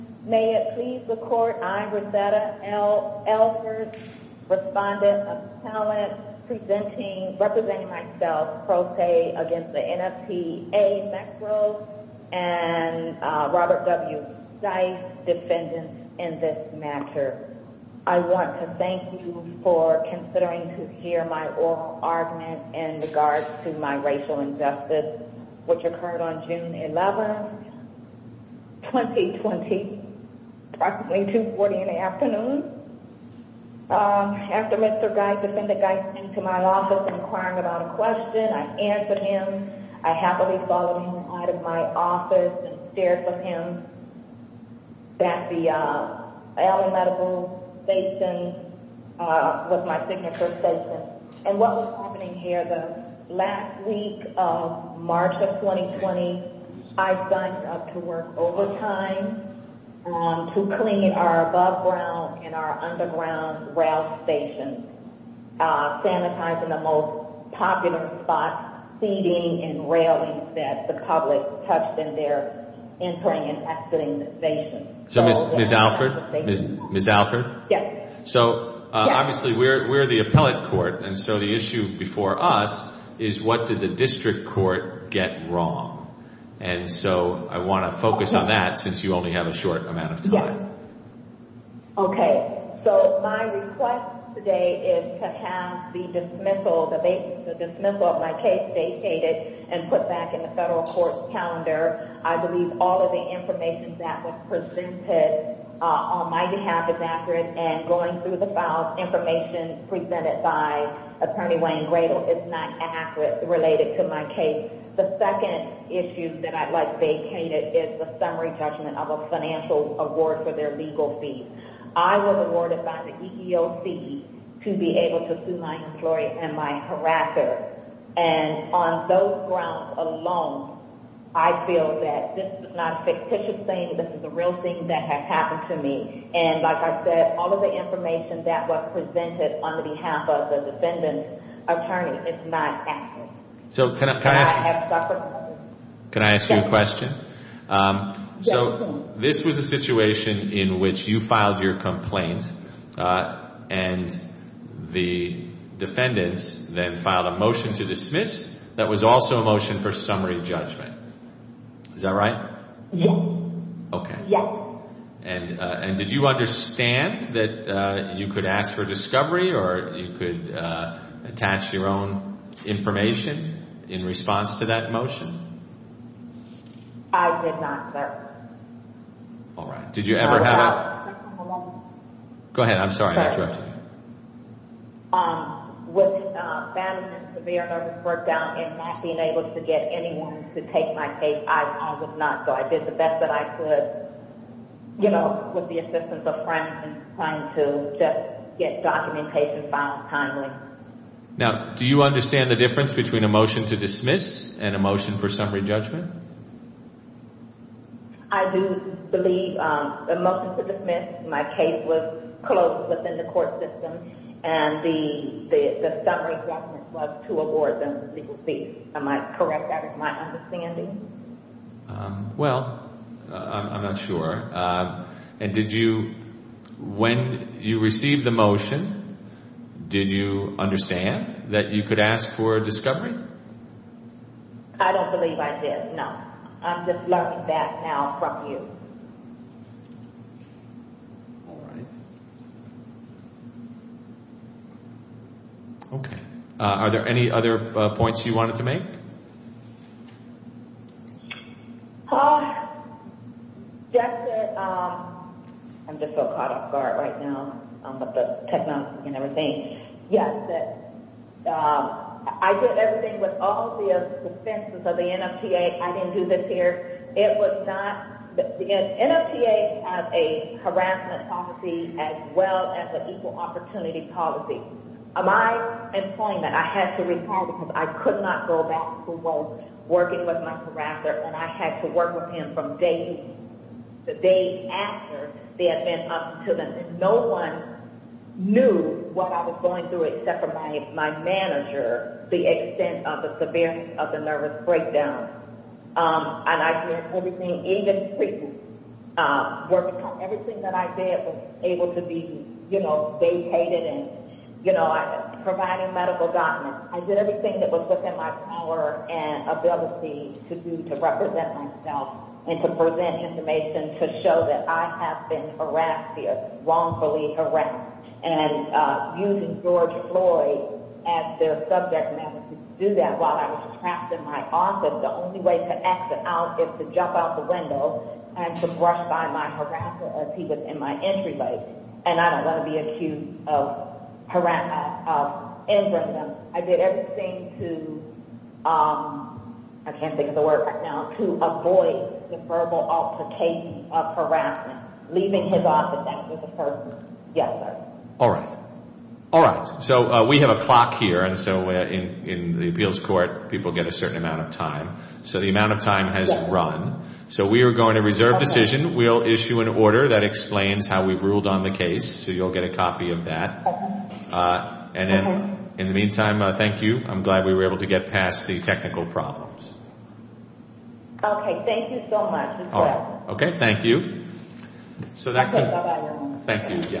May it please the Court, I, Rosetta Alford, Respondent of the Assembly, representing myself, pro se against the NFTA-Metro, and Robert W. Stice, defendant in this matter. I want to thank you for considering to hear my oral argument in regards to my racial injustice, which occurred on June 11, 2020, approximately 2.40 in the afternoon. After Mr. Geis, defendant Geis came to my office inquiring about a question, I answered him. I happily followed him out of my office and stared for him at the Allen Medical Station, was my signature statement. And what was happening here the last week of March of 2020, I signed up to work overtime to clean our above ground and our underground rail stations, sanitizing the most popular spots, seating and railings that the public touched in their entering and exiting the station. So Ms. Alford, Ms. Alford? Yes. So obviously we're the appellate court, and so the issue before us is what did the district court get wrong? And so I want to focus on that since you only have a short amount of time. Okay. So my request today is to have the dismissal, the dismissal of my case, vacated and put back in the federal court's calendar. I believe all of the information that was presented on my behalf is accurate. And going through the files, information presented by Attorney Wayne Gradle is not accurate related to my case. The second issue that I'd like vacated is the summary judgment of a financial award for their legal fees. I was awarded by the EEOC to be able to sue my employee and my contractor. And on those grounds alone, I feel that this is not a fictitious thing. This is a real thing that has happened to me. And like I said, all of the information that was presented on the behalf of the defendant attorney is not accurate. Can I ask you a question? This was a situation in which you filed your complaint and the defendants then filed a motion to dismiss that was also a motion for summary judgment. Is that right? Okay. And did you understand that you could ask for discovery or you could attach your own information in response to that motion? I did not, sir. All right. Did you ever have a... I'm sorry. I won't... Go ahead. I'm sorry. I interrupted you. Sir, with family and severe nervous breakdown and not being able to get anyone to take my case, I probably would not. So I did the best that I could, you know, with the assistance of friends and trying to just get documentation filed timely. Now, do you understand the difference between a motion to dismiss and a motion for summary judgment? I do believe the motion to dismiss, my case was closed within the court system and the summary judgment was to award them legal fees. Am I correct? Is that my understanding? Well, I'm not sure. And did you, when you received the motion, did you understand that you could ask for discovery? I don't believe I did, no. I'm just learning that now from you. All right. Okay. Are there any other points you wanted to make? Yes, sir. I'm just so caught off guard right now with the technology and everything. Yes, that, I did everything with all the defenses of the NFTA. I didn't do this here. It was not, the NFTA has a harassment policy as well as an equal opportunity policy. My employment, I had to retire because I could not go back to work working with my harasser and I had to work with him from day to day after they had been up to them. And no one knew what I was going through except for my manager, the extent of the severity of the nervous breakdown. And I did everything, even working on everything that I did was able to be, you know, vacated and, you know, providing medical guidance. I did everything that was within my power and ability to do to represent myself and to present information to show that I have been wrongfully harassed and using George Floyd as their subject matter to do that while I was trapped in my office. The only way to exit out is to jump out the window and to brush by my harasser as he was in my entryway. And I don't want to be accused of harassment, of infringement. I did everything to, I can't think of the word right now, to avoid the verbal altercation of harassment, leaving his office. Yes, sir. All right. All right. So we have a clock here. And so in the appeals court, people get a certain amount of time. So the amount of time has run. So we are going to reserve decision. We'll issue an order that explains how we've ruled on the case. So you'll get a copy of that. And then in the meantime, thank you. I'm glad we were able to so that. Thank you.